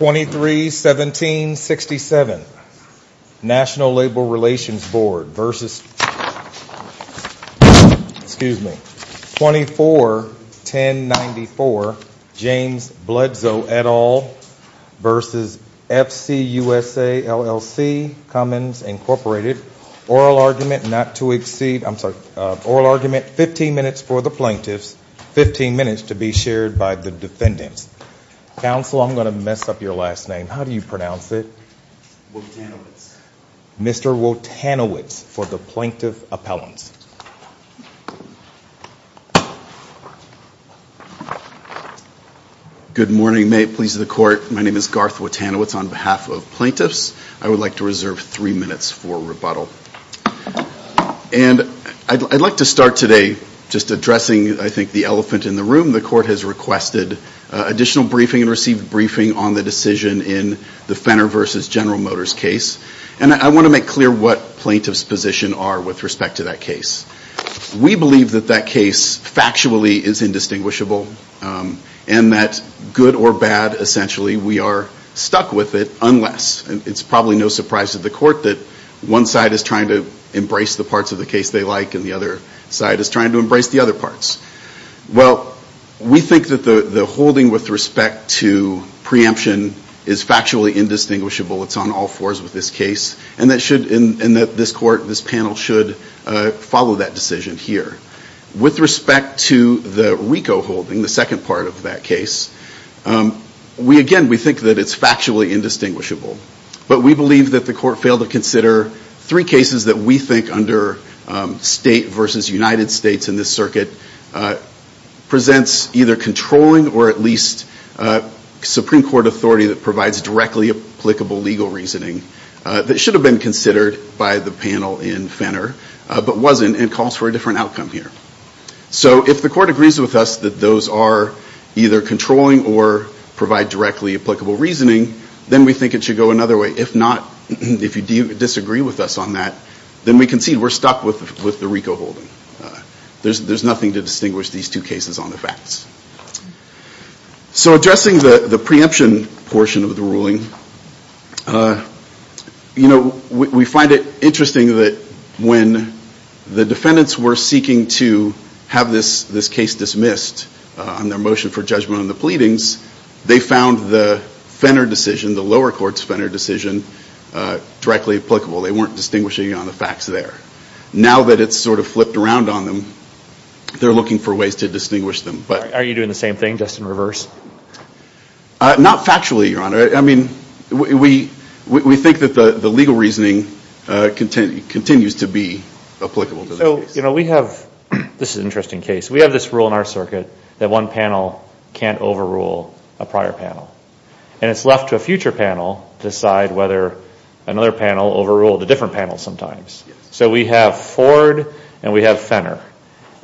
oral argument 15 minutes for the plaintiffs, 15 minutes to be shared by the defendants. Counsel, I'm going to mess up your last name. How do you pronounce it? Wotanowicz. Mr. Wotanowicz for the plaintiff appellants. Good morning, may it please the court. My name is Garth Wotanowicz on behalf of plaintiffs. I would like to reserve three minutes for rebuttal. And I'd like to start today just addressing, I think, the elephant in the room. The court has requested additional briefing and received briefing on the decision in the Fenner v. General Motors case. And I want to make clear what plaintiff's position are with respect to that case. We believe that that case factually is indistinguishable and that good or bad, essentially, we are stuck with it unless. And it's probably no surprise to the court that one side is trying to embrace the parts of the case they like and the other side is trying to embrace the other parts. Well, we think that the holding with respect to preemption is factually indistinguishable. It's on all fours with this case. And that should in this court, this panel should follow that decision here. With respect to the RICO holding, the second part of that case, we, again, we think that it's factually indistinguishable. But we believe that the court failed to consider three cases that we think under state versus United States in this circuit presents either controlling or at least Supreme Court authority that provides directly applicable legal reasoning that should have been considered by the panel in Fenner but wasn't and calls for a different outcome here. So if the court agrees with us that those are either controlling or provide directly applicable reasoning, then we think it should go another way. If not, if you disagree with us on that, then we concede we're stuck with the RICO holding. There's nothing to distinguish these two cases on the facts. So addressing the preemption portion of the ruling, you know, we find it interesting that when the defendants were seeking to have this case dismissed on their motion for judgment on the pleadings, they found the Fenner decision, the lower court's Fenner decision, directly applicable. They weren't distinguishing on the facts there. Now that it's sort of flipped around on them, they're looking for ways to distinguish them. Are you doing the same thing, just in reverse? Not factually, Your Honor. I mean, we think that the legal reasoning continues to be applicable to the case. So, you know, we have this interesting case. We have this rule in our circuit that one panel can't overrule a prior panel. And it's left to a future panel to decide whether another panel overruled a different panel sometimes. So we have Ford and we have Fenner.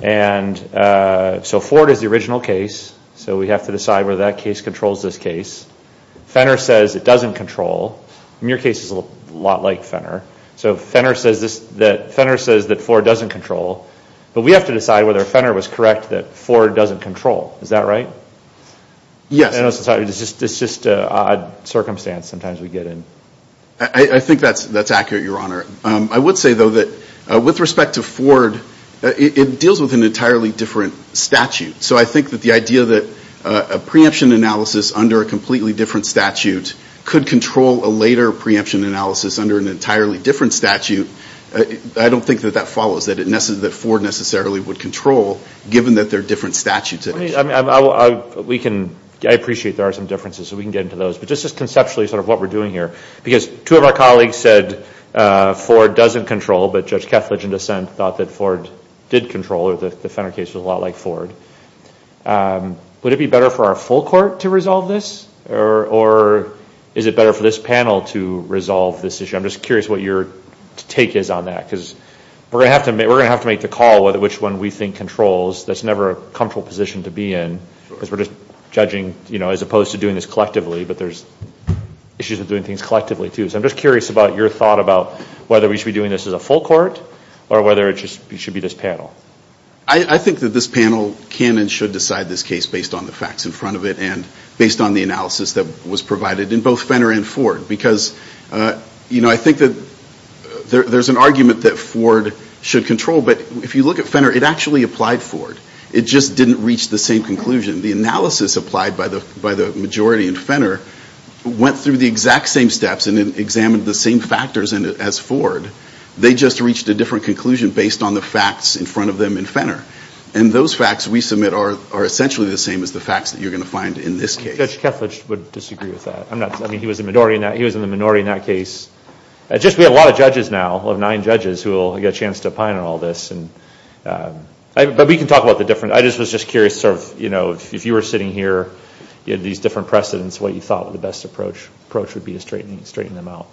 And so Ford is the original case. So we have to decide whether that case controls this case. Fenner says it doesn't control. And your case is a lot like Fenner. So Fenner says that Ford doesn't control. But we have to decide whether Fenner was correct that Ford doesn't control. Is that right? Yes. It's just an odd circumstance sometimes we get in. I think that's accurate, Your Honor. I would say, though, that with respect to Ford, it deals with an entirely different statute. So I think that the idea that a preemption analysis under a completely different statute could control a later preemption analysis under an entirely different statute, I don't think that that follows, that Ford necessarily would control, given that they're different statutes. I appreciate there are some differences. We can get into those. But just conceptually sort of what we're doing here, because two of our colleagues said Ford doesn't control, but Judge Kethledge in dissent thought that Ford did control or that the Fenner case was a lot like Ford. Would it be better for our full court to resolve this? Or is it better for this panel to resolve this issue? I'm just curious what your take is on that, because we're going to have to make the call which one we think controls. That's never a comfortable position to be in, because we're just judging as opposed to doing this collectively. But there's issues with doing things collectively, too. So I'm just curious about your thought about whether we should be doing this as a full court or whether it should be this panel. I think that this panel can and should decide this case based on the facts in front of it and based on the analysis that was provided in both Fenner and Ford. Because, you know, I think that there's an argument that Ford should control, but if you look at Fenner, it actually applied Ford. It just didn't reach the same conclusion. The analysis applied by the majority in Fenner went through the exact same steps and examined the same factors as Ford. They just reached a different conclusion based on the facts in front of them in Fenner. And those facts we submit are essentially the same as the facts that you're going to find in this case. Judge Kethledge would disagree with that. I mean, he was in the minority in that case. We have a lot of judges now, nine judges, who will get a chance to opine on all this. But we can talk about the difference. I just was just curious sort of, you know, if you were sitting here, you had these different precedents, what you thought the best approach would be to straighten them out.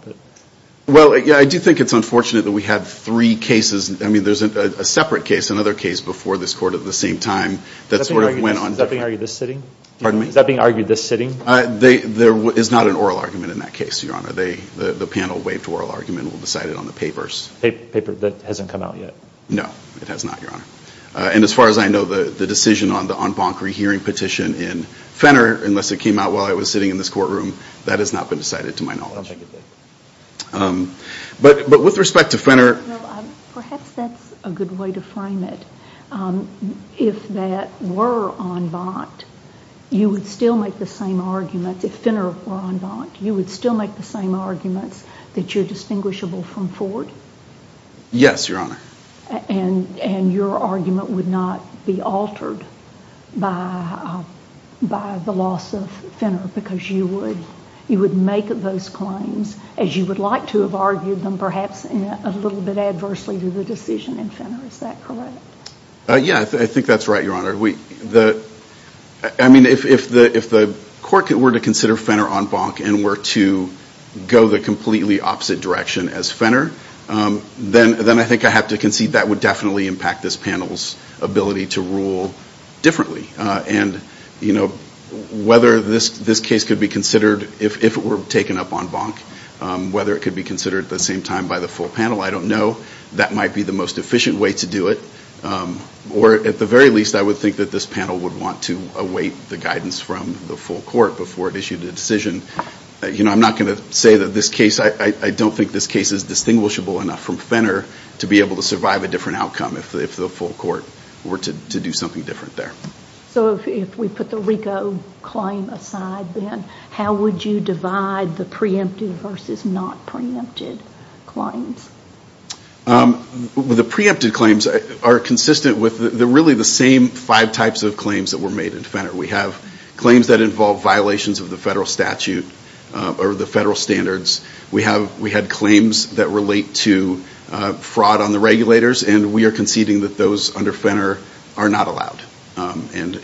Well, I do think it's unfortunate that we have three cases. I mean, there's a separate case, another case before this court at the same time that sort of went on. Is that being argued this sitting? Pardon me? Is that being argued this sitting? There is not an oral argument in that case, Your Honor. The panel waived oral argument and will decide it on the papers. Paper that hasn't come out yet? No, it has not, Your Honor. And as far as I know, the decision on the en banc rehearing petition in Fenner, unless it came out while I was sitting in this courtroom, that has not been decided to my knowledge. I'll check it then. But with respect to Fenner Perhaps that's a good way to frame it. If that were en banc, you would still make the same arguments, if Fenner were en banc, you would still make the same arguments that you're distinguishable from Ford? Yes, Your Honor. And your argument would not be altered by the loss of Fenner, because you would make those claims as you would like to have argued them, perhaps a little bit adversely to the decision in Fenner. Is that correct? Yes, I think that's right, Your Honor. I mean, if the court were to consider Fenner en banc and were to go the completely opposite direction as Fenner, then I think I have to concede that would definitely impact this panel's ability to rule differently. And, you know, whether this case could be considered, if it were taken up en banc, whether it could be considered at the same time by the full panel, I don't know. That might be the most efficient way to do it. Or at the very least, I would think that this panel would want to await the guidance from the full court before it issued a decision. You know, I'm not going to say that this case, I don't think this case is distinguishable enough from Fenner to be able to survive a different outcome if the full court were to do something different there. So if we put the RICO claim aside then, how would you divide the preempted versus not preempted claims? The preempted claims are consistent with really the same five types of claims that were made in Fenner. We have claims that involve violations of the federal statute or the federal standards. We had claims that relate to fraud on the regulators, and we are conceding that those under Fenner are not allowed. And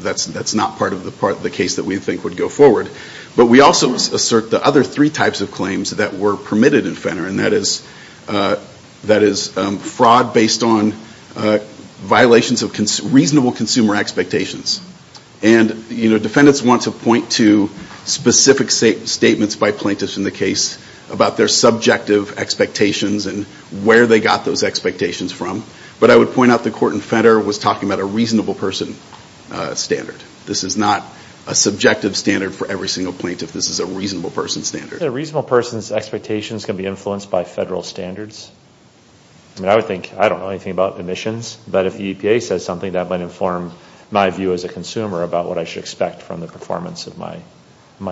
that's not part of the case that we think would go forward. But we also assert the other three types of claims that were permitted in Fenner, and that is fraud based on violations of reasonable consumer expectations. And defendants want to point to specific statements by plaintiffs in the case about their subjective expectations and where they got those expectations from. But I would point out the court in Fenner was talking about a reasonable person standard. This is not a subjective standard for every single plaintiff. This is a reasonable person standard. Isn't a reasonable person's expectations going to be influenced by federal standards? I don't know anything about emissions, but if the EPA says something, that might inform my view as a consumer about what I should expect from the performance of my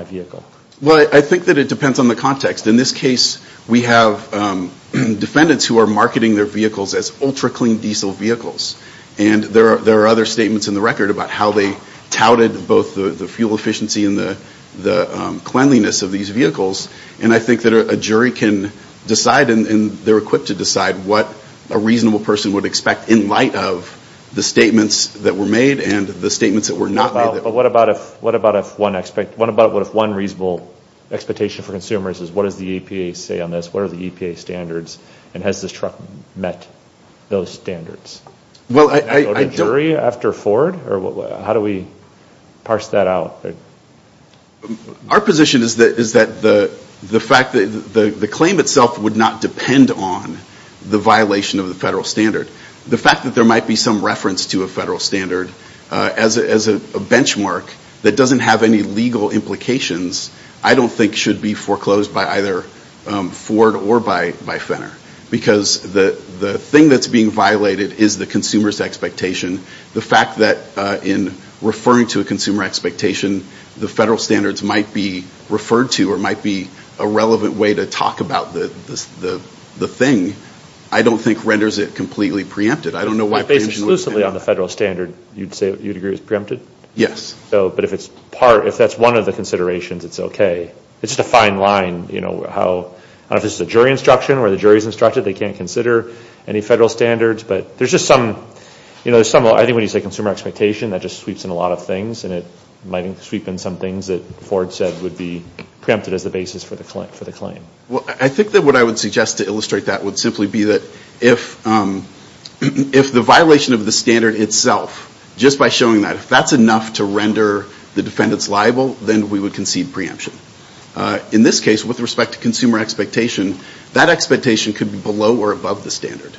vehicle. Well, I think that it depends on the context. In this case, we have defendants who are marketing their vehicles as ultra-clean diesel vehicles. And there are other statements in the record about how they touted both the fuel efficiency and the cleanliness of these vehicles. And I think that a jury can decide, and they're equipped to decide, what a reasonable person would expect in light of the statements that were made and the statements that were not made. But what about if one reasonable expectation for consumers is what does the EPA say on this, what are the EPA standards, and has this truck met those standards? Is there a jury after Ford, or how do we parse that out? Our position is that the claim itself would not depend on the violation of the federal standard. The fact that there might be some reference to a federal standard as a benchmark that doesn't have any legal implications I don't think should be foreclosed by either Ford or by Fenner, because the thing that's being violated is the consumer's expectation. The fact that in referring to a consumer expectation, the federal standards might be referred to or might be a relevant way to talk about the thing, I don't think renders it completely preempted. I don't know why preemption would be. Based exclusively on the federal standard, you'd agree it's preempted? Yes. But if it's part, if that's one of the considerations, it's okay. It's just a fine line. I don't know if this is a jury instruction or the jury's instruction, they can't consider any federal standards, but there's just some, I think when you say consumer expectation, that just sweeps in a lot of things, and it might sweep in some things that Ford said would be preempted as the basis for the claim. I think that what I would suggest to illustrate that would simply be that if the violation of the standard itself, just by showing that, if that's enough to render the defendants liable, then we would concede preemption. In this case, with respect to consumer expectation, that expectation could be below or above the standard.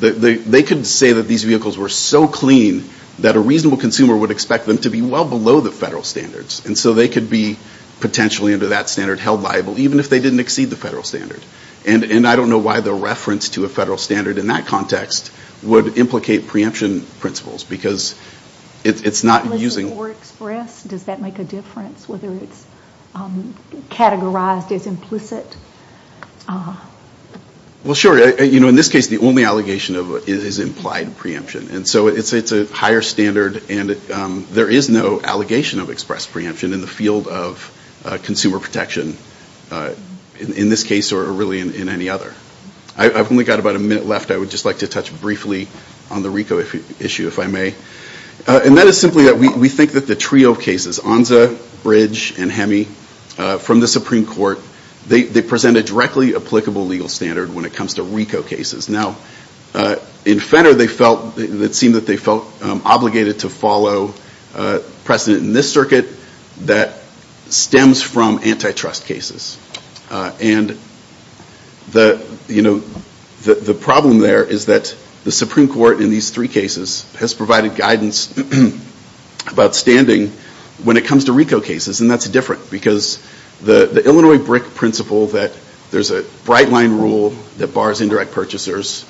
They could say that these vehicles were so clean that a reasonable consumer would expect them to be well below the federal standards, and so they could be potentially under that standard held liable, even if they didn't exceed the federal standard. And I don't know why the reference to a federal standard in that context would implicate preemption principles, because it's not using... For express, does that make a difference, whether it's categorized as implicit? Well, sure. In this case, the only allegation is implied preemption, and so it's a higher standard, and there is no allegation of express preemption in the field of consumer protection, in this case or really in any other. I've only got about a minute left. I would just like to touch briefly on the RICO issue, if I may. And that is simply that we think that the trio of cases, Onza, Bridge, and Hemme, from the Supreme Court, they present a directly applicable legal standard when it comes to RICO cases. Now, in Fenner, it seemed that they felt obligated to follow precedent in this circuit that stems from antitrust cases. And the problem there is that the Supreme Court in these three cases has provided guidance about standing when it comes to RICO cases, and that's different, because the Illinois BRIC principle that there's a bright line rule that bars indirect purchasers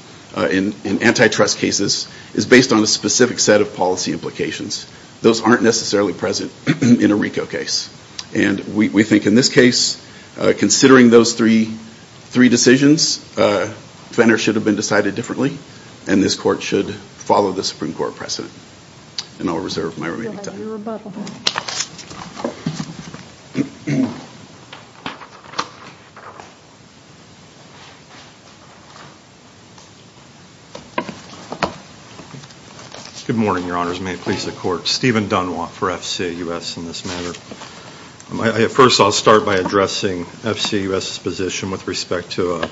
in antitrust cases is based on a specific set of policy implications. Those aren't necessarily present in a RICO case. And we think in this case, considering those three decisions, Fenner should have been decided differently, and this court should follow the Supreme Court precedent. And I'll reserve my remaining time. Good morning, Your Honors. May it please the Court. Stephen Dunwant for FCA U.S. in this matter. First, I'll start by addressing FCA U.S.'s position with respect to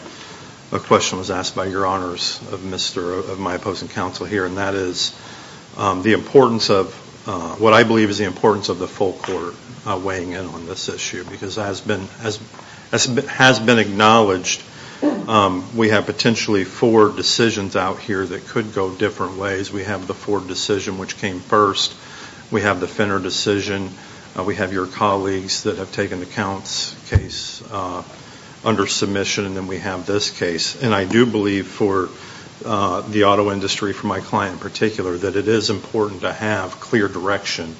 a question that was asked by Your Honors, of my opposing counsel here, and that is the importance of what I believe is the importance of the full court weighing in on this issue, because as has been acknowledged, we have potentially four decisions out here that could go different ways. We have the Ford decision, which came first. We have the Fenner decision. We have your colleagues that have taken the Counts case under submission, and then we have this case. And I do believe for the auto industry, for my client in particular, that it is important to have clear direction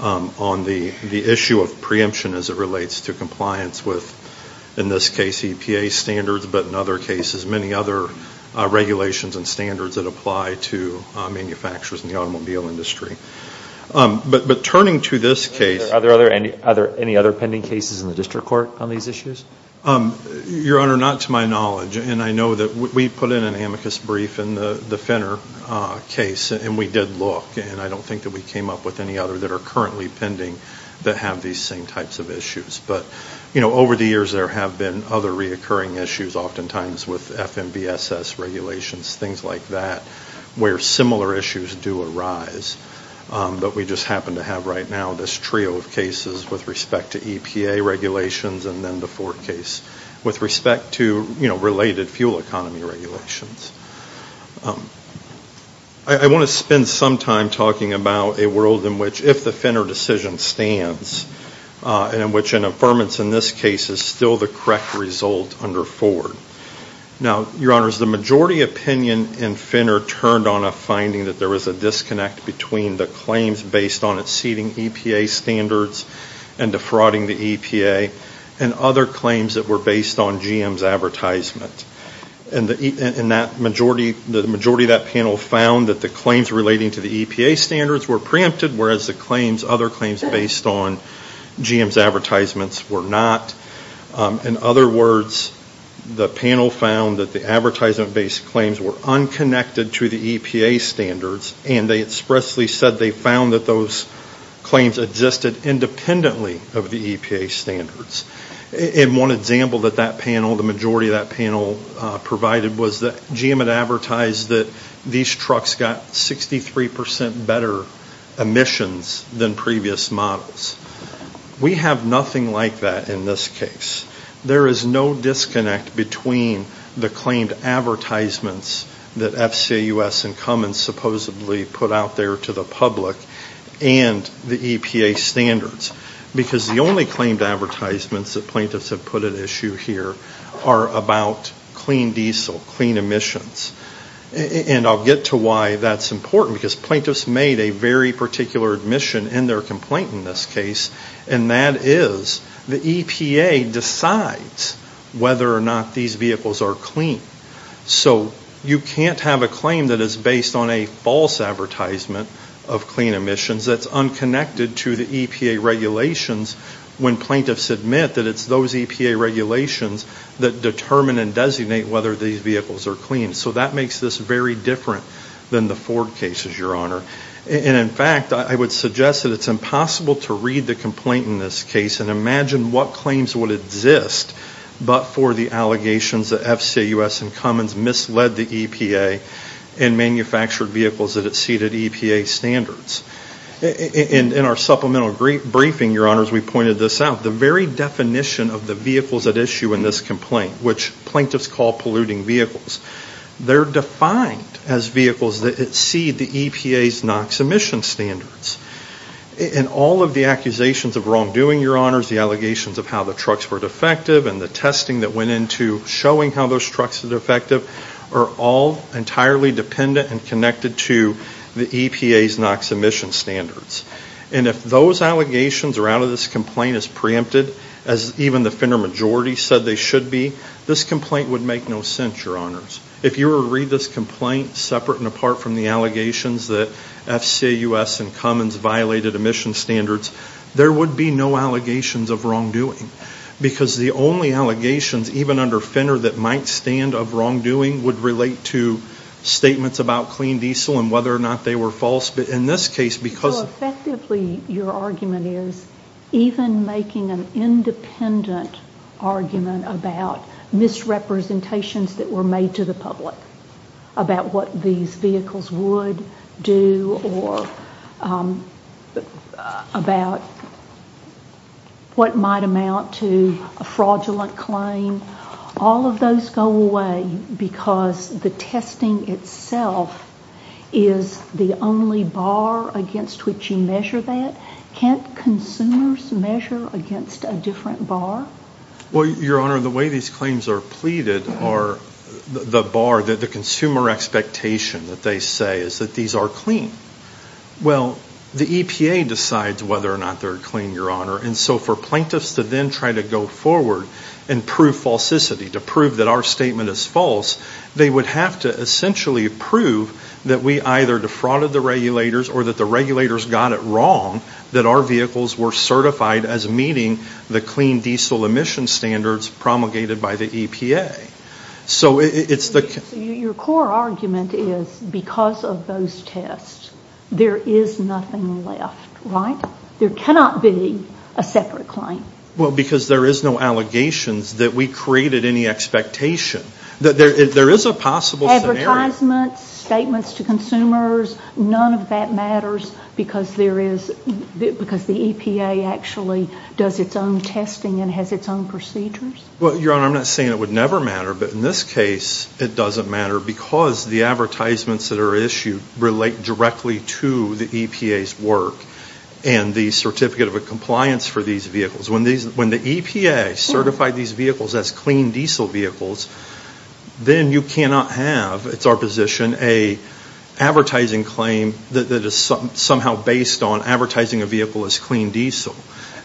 on the issue of preemption as it relates to compliance with, in this case, EPA standards, but in other cases, many other regulations and standards that apply to manufacturers in the automobile industry. But turning to this case... Are there any other pending cases in the district court on these issues? Your Honor, not to my knowledge, and I know that we put in an amicus brief in the Fenner case, and we did look, and I don't think that we came up with any other that are currently pending that have these same types of issues. But over the years, there have been other reoccurring issues, oftentimes with FMVSS regulations, things like that, where similar issues do arise, but we just happen to have right now this trio of cases with respect to EPA regulations and then the Ford case with respect to related fuel economy regulations. I want to spend some time talking about a world in which, if the Fenner decision stands, in which an affirmance in this case is still the correct result under Ford. Now, Your Honor, the majority opinion in Fenner turned on a finding that there was a disconnect between the claims based on exceeding EPA standards and defrauding the EPA, and other claims that were based on GM's advertisement. The majority of that panel found that the claims relating to the EPA standards were preempted, whereas the other claims based on GM's advertisements were not. In other words, the panel found that the advertisement-based claims were unconnected to the EPA standards, and they expressly said they found that those claims existed independently of the EPA standards. And one example that that panel, the majority of that panel provided, was that GM had advertised that these trucks got 63% better emissions than previous models. We have nothing like that in this case. There is no disconnect between the claimed advertisements that FCAUS and Cummins supposedly put out there to the public and the EPA standards, because the only claimed advertisements that plaintiffs have put at issue here are about clean diesel, clean emissions. And I'll get to why that's important, because plaintiffs made a very particular admission in their complaint in this case, and that is the EPA decides whether or not these vehicles are clean. So you can't have a claim that is based on a false advertisement of clean emissions that's unconnected to the EPA regulations when plaintiffs admit that it's those EPA regulations that determine and designate whether these vehicles are clean. So that makes this very different than the Ford cases, Your Honor. And in fact, I would suggest that it's impossible to read the complaint in this case and imagine what claims would exist but for the allegations that FCAUS and Cummins misled the EPA and manufactured vehicles that exceeded EPA standards. In our supplemental briefing, Your Honors, we pointed this out. The very definition of the vehicles at issue in this complaint, which plaintiffs call polluting vehicles, they're defined as vehicles that exceed the EPA's NOx emission standards. And all of the accusations of wrongdoing, Your Honors, the allegations of how the trucks were defective and the testing that went into showing how those trucks were defective are all entirely dependent and connected to the EPA's NOx emission standards. And if those allegations are out of this complaint as preempted, as even the Fenner majority said they should be, this complaint would make no sense, Your Honors. If you were to read this complaint separate and apart from the allegations that FCAUS and Cummins violated emission standards, there would be no allegations of wrongdoing because the only allegations, even under Fenner, that might stand of wrongdoing would relate to statements about clean diesel and whether or not they were false. So effectively, your argument is even making an independent argument about misrepresentations that were made to the public about what these vehicles would do or about what might amount to a fraudulent claim. All of those go away because the testing itself is the only bar against which you measure that. Can't consumers measure against a different bar? Well, Your Honor, the way these claims are pleaded are the bar, the consumer expectation that they say is that these are clean. Well, the EPA decides whether or not they're clean, Your Honor, and so for plaintiffs to then try to go forward and prove falsicity, to prove that our statement is false, they would have to essentially prove that we either defrauded the regulators or that the regulators got it wrong that our vehicles were certified as meeting the clean diesel emission standards promulgated by the EPA. So your core argument is because of those tests, there is nothing left, right? There cannot be a separate claim. Well, because there is no allegations that we created any expectation. There is a possible scenario. Advertisements, statements to consumers, none of that matters because the EPA actually does its own testing and has its own procedures? Well, Your Honor, I'm not saying it would never matter, but in this case it doesn't matter because the advertisements that are issued relate directly to the EPA's work and the certificate of compliance for these vehicles. When the EPA certified these vehicles as clean diesel vehicles, then you cannot have, it's our position, an advertising claim that is somehow based on advertising a vehicle as clean diesel.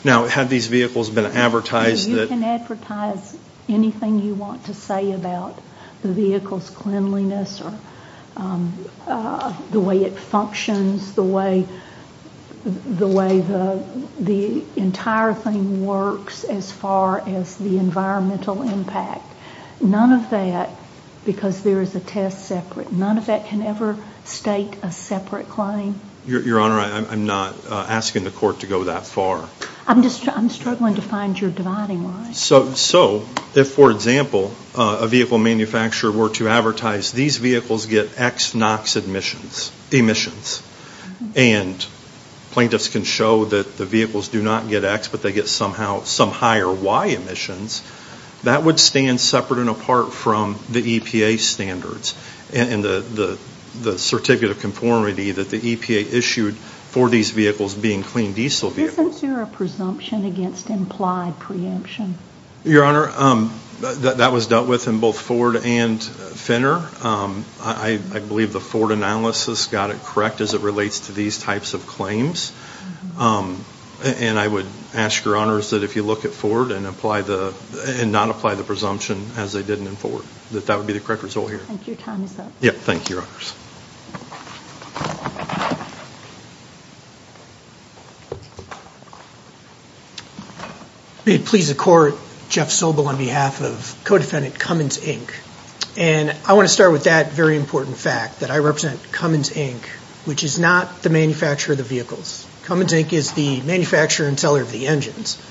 Now, have these vehicles been advertised? You can advertise anything you want to say about the vehicle's cleanliness or the way it functions, the way the entire thing works as far as the environmental impact. None of that, because there is a test separate, none of that can ever state a separate claim. Your Honor, I'm not asking the court to go that far. I'm struggling to find your dividing line. So if, for example, a vehicle manufacturer were to advertise these vehicles get X NOx emissions and plaintiffs can show that the vehicles do not get X, but they get somehow some higher Y emissions, that would stand separate and apart from the EPA standards and the certificate of conformity that the EPA issued for these vehicles being clean diesel vehicles. Isn't there a presumption against implied preemption? Your Honor, that was dealt with in both Ford and Fenner. I believe the Ford analysis got it correct as it relates to these types of claims. And I would ask your Honors that if you look at Ford and apply the, and not apply the presumption as they did in Ford, that that would be the correct result here. Thank you, Tom. Yes, thank you, Your Honors. May it please the court, Jeff Sobel on behalf of co-defendant Cummins, Inc. And I want to start with that very important fact that I represent Cummins, Inc., which is not the manufacturer of the vehicles. Cummins, Inc. is the manufacturer and seller of the engines.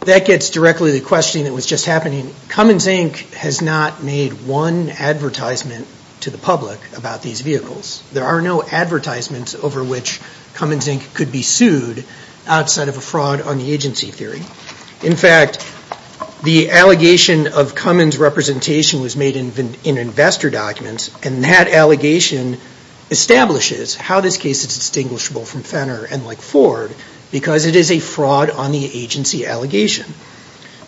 That gets directly to the question that was just happening. Cummins, Inc. has not made one advertisement to the public about these vehicles. There are no advertisements over which Cummins, Inc. could be sued outside of a fraud on the agency theory. In fact, the allegation of Cummins' representation was made in investor documents, and that allegation establishes how this case is distinguishable from Fenner and like Ford because it is a fraud on the agency allegation.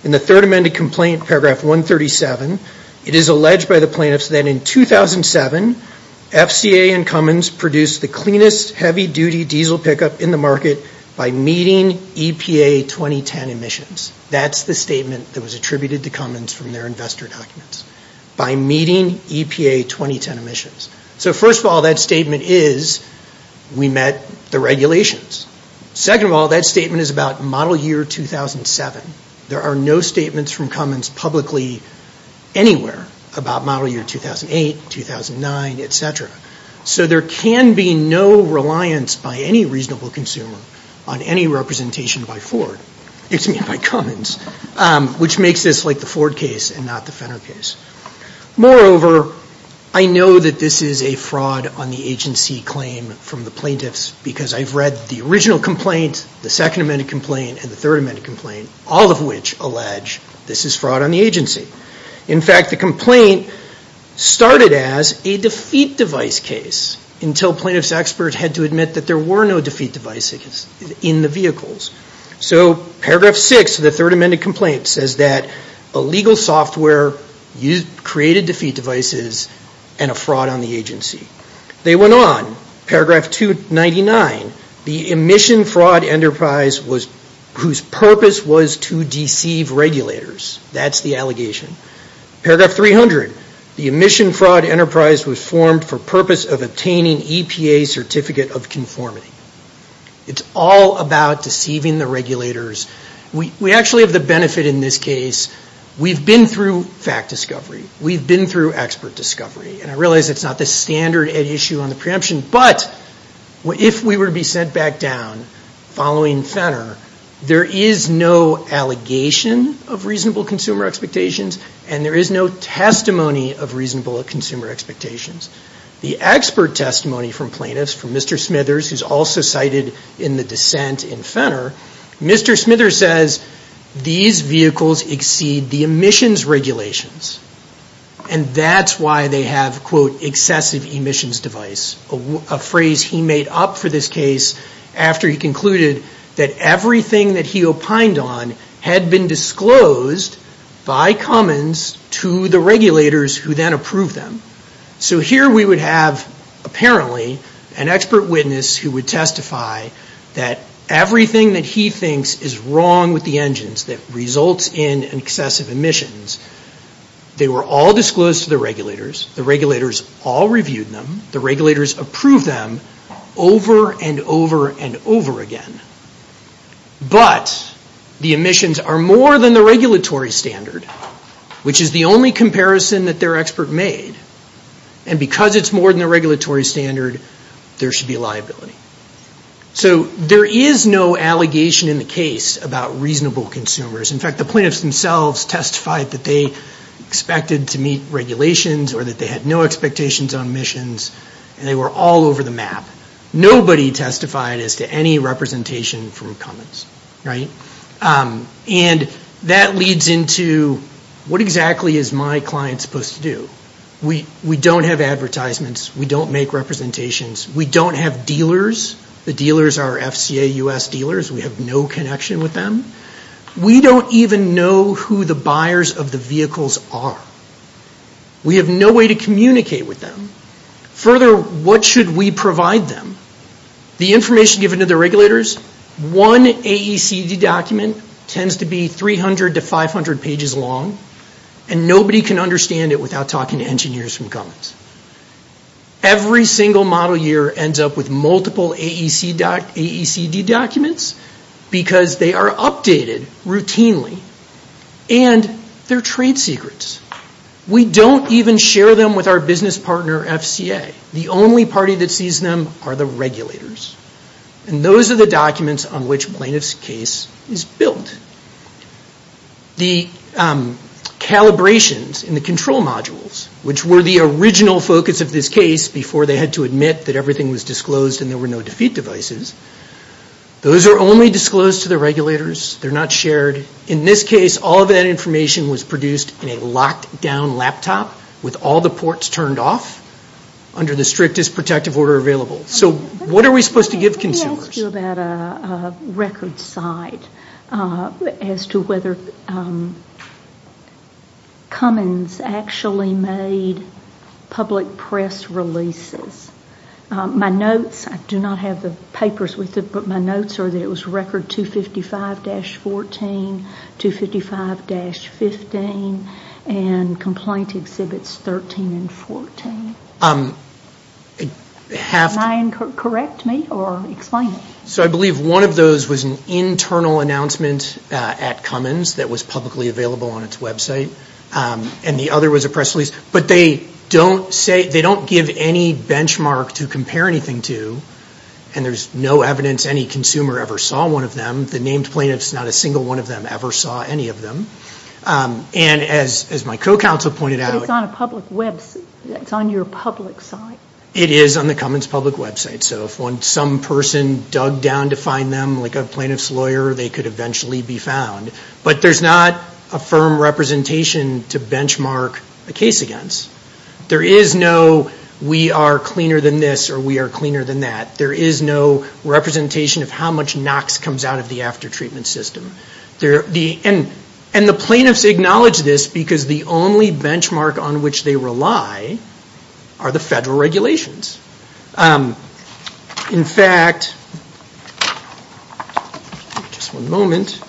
In the third amended complaint, paragraph 137, it is alleged by the plaintiffs that in 2007, FCA and Cummins produced the cleanest heavy-duty diesel pickup in the market by meeting EPA 2010 emissions. That's the statement that was attributed to Cummins from their investor documents, by meeting EPA 2010 emissions. So first of all, that statement is we met the regulations. Second of all, that statement is about model year 2007. There are no statements from Cummins publicly anywhere about model year 2008, 2009, et cetera. So there can be no reliance by any reasonable consumer on any representation by Ford, excuse me, by Cummins, which makes this like the Ford case and not the Fenner case. Moreover, I know that this is a fraud on the agency claim from the plaintiffs because I've read the original complaint, the second amended complaint, and the third amended complaint, all of which allege this is fraud on the agency. In fact, the complaint started as a defeat device case until plaintiffs' experts had to admit that there were no defeat devices in the vehicles. So paragraph 6 of the third amended complaint says that illegal software created defeat devices and a fraud on the agency. They went on. Paragraph 299, the emission fraud enterprise whose purpose was to deceive regulators. That's the allegation. Paragraph 300, the emission fraud enterprise was formed for purpose of obtaining EPA certificate of conformity. It's all about deceiving the regulators. We actually have the benefit in this case. We've been through fact discovery. We've been through expert discovery. And I realize it's not the standard at issue on the preemption, but if we were to be sent back down following Fenner, there is no allegation of reasonable consumer expectations and there is no testimony of reasonable consumer expectations. The expert testimony from plaintiffs, from Mr. Smithers, who's also cited in the dissent in Fenner, Mr. Smithers says these vehicles exceed the emissions regulations and that's why they have, quote, excessive emissions device, a phrase he made up for this case after he concluded that everything that he opined on had been disclosed by Cummins to the regulators who then approved them. So here we would have, apparently, an expert witness who would testify that everything that he thinks is wrong with the engines that results in excessive emissions, they were all disclosed to the regulators. The regulators all reviewed them. The regulators approved them over and over and over again. But the emissions are more than the regulatory standard, which is the only comparison that their expert made. And because it's more than the regulatory standard, there should be a liability. So there is no allegation in the case about reasonable consumers. In fact, the plaintiffs themselves testified that they expected to meet regulations or that they had no expectations on emissions and they were all over the map. Nobody testified as to any representation from Cummins, right? And that leads into what exactly is my client supposed to do? We don't have advertisements. We don't make representations. We don't have dealers. The dealers are FCA US dealers. We have no connection with them. We don't even know who the buyers of the vehicles are. We have no way to communicate with them. Further, what should we provide them? The information given to the regulators, one AECD document tends to be 300 to 500 pages long, and nobody can understand it without talking to engineers from Cummins. Every single model year ends up with multiple AECD documents because they are updated routinely, and they're trade secrets. We don't even share them with our business partner, FCA. The only party that sees them are the regulators. And those are the documents on which plaintiff's case is built. The calibrations in the control modules, which were the original focus of this case before they had to admit that everything was disclosed and there were no defeat devices, those are only disclosed to the regulators. They're not shared. In this case, all of that information was produced in a locked-down laptop with all the ports turned off under the strictest protective order available. So what are we supposed to give consumers? It's still about a record site as to whether Cummins actually made public press releases. My notes, I do not have the papers with it, but my notes are that it was record 255-14, 255-15, and complaint exhibits 13 and 14. Can you correct me or explain it? So I believe one of those was an internal announcement at Cummins that was publicly available on its website, and the other was a press release. But they don't give any benchmark to compare anything to, and there's no evidence any consumer ever saw one of them. The named plaintiffs, not a single one of them ever saw any of them. And as my co-counsel pointed out- It's on your public site. It is on the Cummins public website. So if some person dug down to find them, like a plaintiff's lawyer, they could eventually be found. But there's not a firm representation to benchmark a case against. There is no we are cleaner than this or we are cleaner than that. There is no representation of how much NOx comes out of the after-treatment system. And the plaintiffs acknowledge this because the only benchmark on which they rely are the federal regulations. In fact- Just one moment.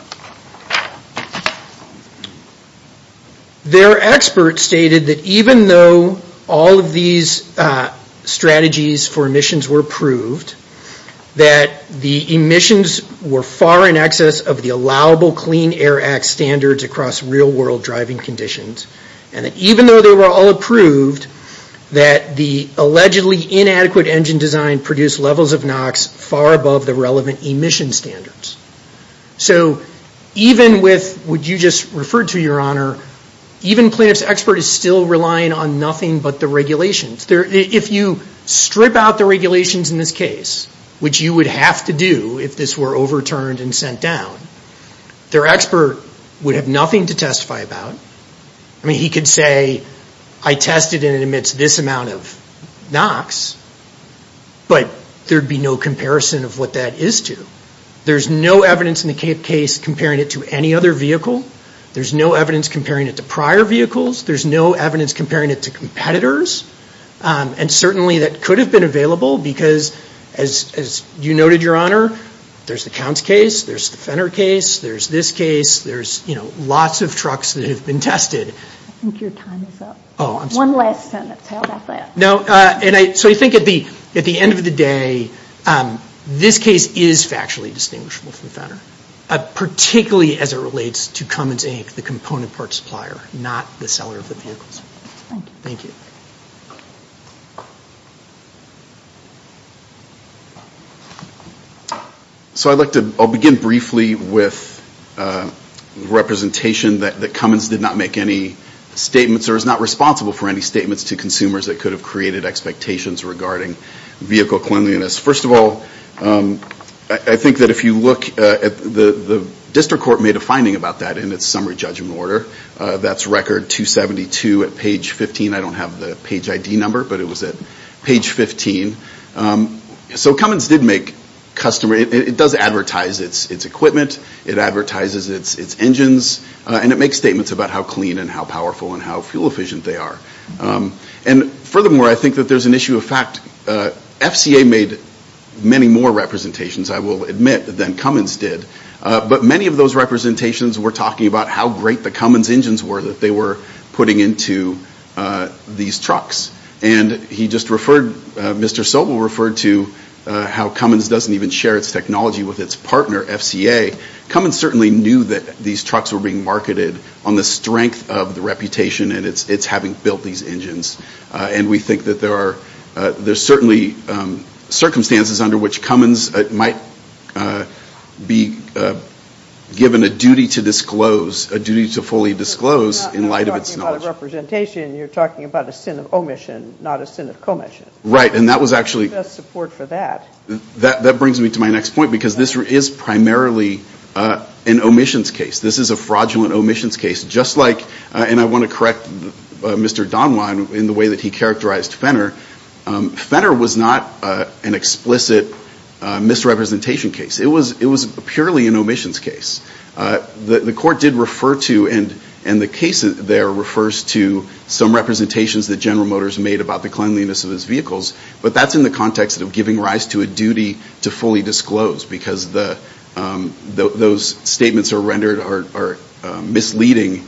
Their expert stated that even though all of these strategies for emissions were approved, that the emissions were far in excess of the allowable Clean Air Act standards across real-world driving conditions, and that even though they were all approved, that the allegedly inadequate engine design produced levels of NOx far above the relevant emission standards. So even with what you just referred to, Your Honor, even plaintiff's expert is still relying on nothing but the regulations. If you strip out the regulations in this case, which you would have to do if this were overturned and sent down, their expert would have nothing to testify about. I mean, he could say, I tested and it emits this amount of NOx, but there'd be no comparison of what that is to. There's no evidence in the case comparing it to any other vehicle. There's no evidence comparing it to prior vehicles. There's no evidence comparing it to competitors. And certainly that could have been available because, as you noted, Your Honor, there's the Counts case, there's the Fenner case, there's this case, there's lots of trucks that have been tested. I think your time is up. Oh, I'm sorry. One last sentence. How about that? No. So I think at the end of the day, this case is factually distinguishable from Fenner, particularly as it relates to Cummins, Inc., the component parts supplier, not the seller of the vehicles. Thank you. Thank you. So I'll begin briefly with representation that Cummins did not make any statements or is not responsible for any statements to consumers that could have created expectations regarding vehicle cleanliness. First of all, I think that if you look at the district court made a finding about that in its summary judgment order. That's record 272 at page 15. I don't have the page ID number, but it was at page 15. So Cummins did make customers. It does advertise its equipment. It advertises its engines. And it makes statements about how clean and how powerful and how fuel efficient they are. And furthermore, I think that there's an issue of fact. FCA made many more representations, I will admit, than Cummins did. But many of those representations were talking about how great the Cummins engines were that they were putting into these trucks. And Mr. Sobel referred to how Cummins doesn't even share its technology with its partner, FCA. Cummins certainly knew that these trucks were being marketed on the strength of the reputation and its having built these engines. And we think that there are certainly circumstances under which Cummins might be given a duty to disclose, a duty to fully disclose in light of its knowledge. You're talking about a representation. You're talking about a sin of omission, not a sin of commission. Right. And that was actually. Best support for that. That brings me to my next point, because this is primarily an omissions case. This is a fraudulent omissions case. And I want to correct Mr. Donwhine in the way that he characterized Fenner. Fenner was not an explicit misrepresentation case. It was purely an omissions case. The court did refer to, and the case there refers to, some representations that General Motors made about the cleanliness of its vehicles. But that's in the context of giving rise to a duty to fully disclose, because those statements are misleading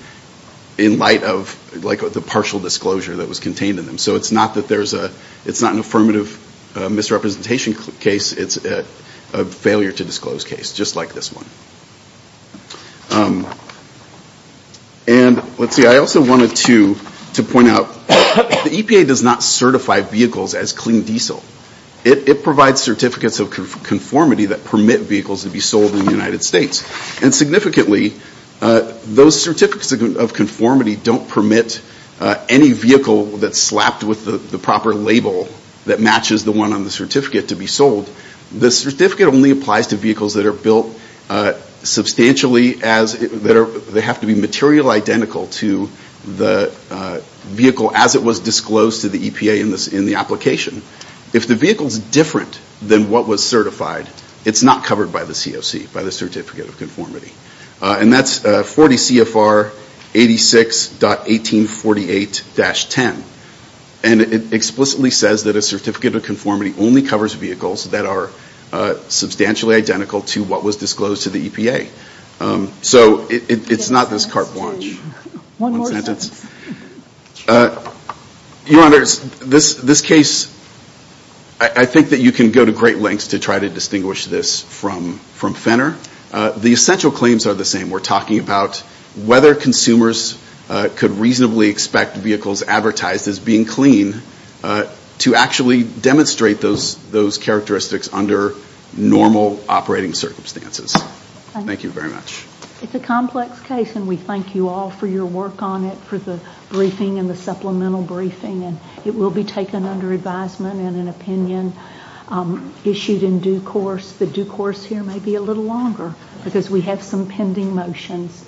in light of the partial disclosure that was contained in them. So it's not an affirmative misrepresentation case. It's a failure to disclose case, just like this one. And let's see. I also wanted to point out the EPA does not certify vehicles as clean diesel. It provides certificates of conformity that permit vehicles to be sold in the United States. And significantly, those certificates of conformity don't permit any vehicle that's slapped with the proper label that matches the one on the certificate to be sold. The certificate only applies to vehicles that are built substantially as, they have to be material identical to the vehicle as it was disclosed to the EPA in the application. If the vehicle is different than what was certified, it's not covered by the COC, by the certificate of conformity. And that's 40 CFR 86.1848-10. And it explicitly says that a certificate of conformity only covers vehicles that are substantially identical to what was disclosed to the EPA. So it's not this carte blanche. One sentence. Your Honors, this case, I think that you can go to great lengths to try to distinguish this from Fenner. The essential claims are the same. We're talking about whether consumers could reasonably expect vehicles advertised as being clean to actually demonstrate those characteristics under normal operating circumstances. Thank you very much. It's a complex case, and we thank you all for your work on it, for the briefing and the supplemental briefing. It will be taken under advisement and an opinion issued in due course. The due course here may be a little longer because we have some pending motions.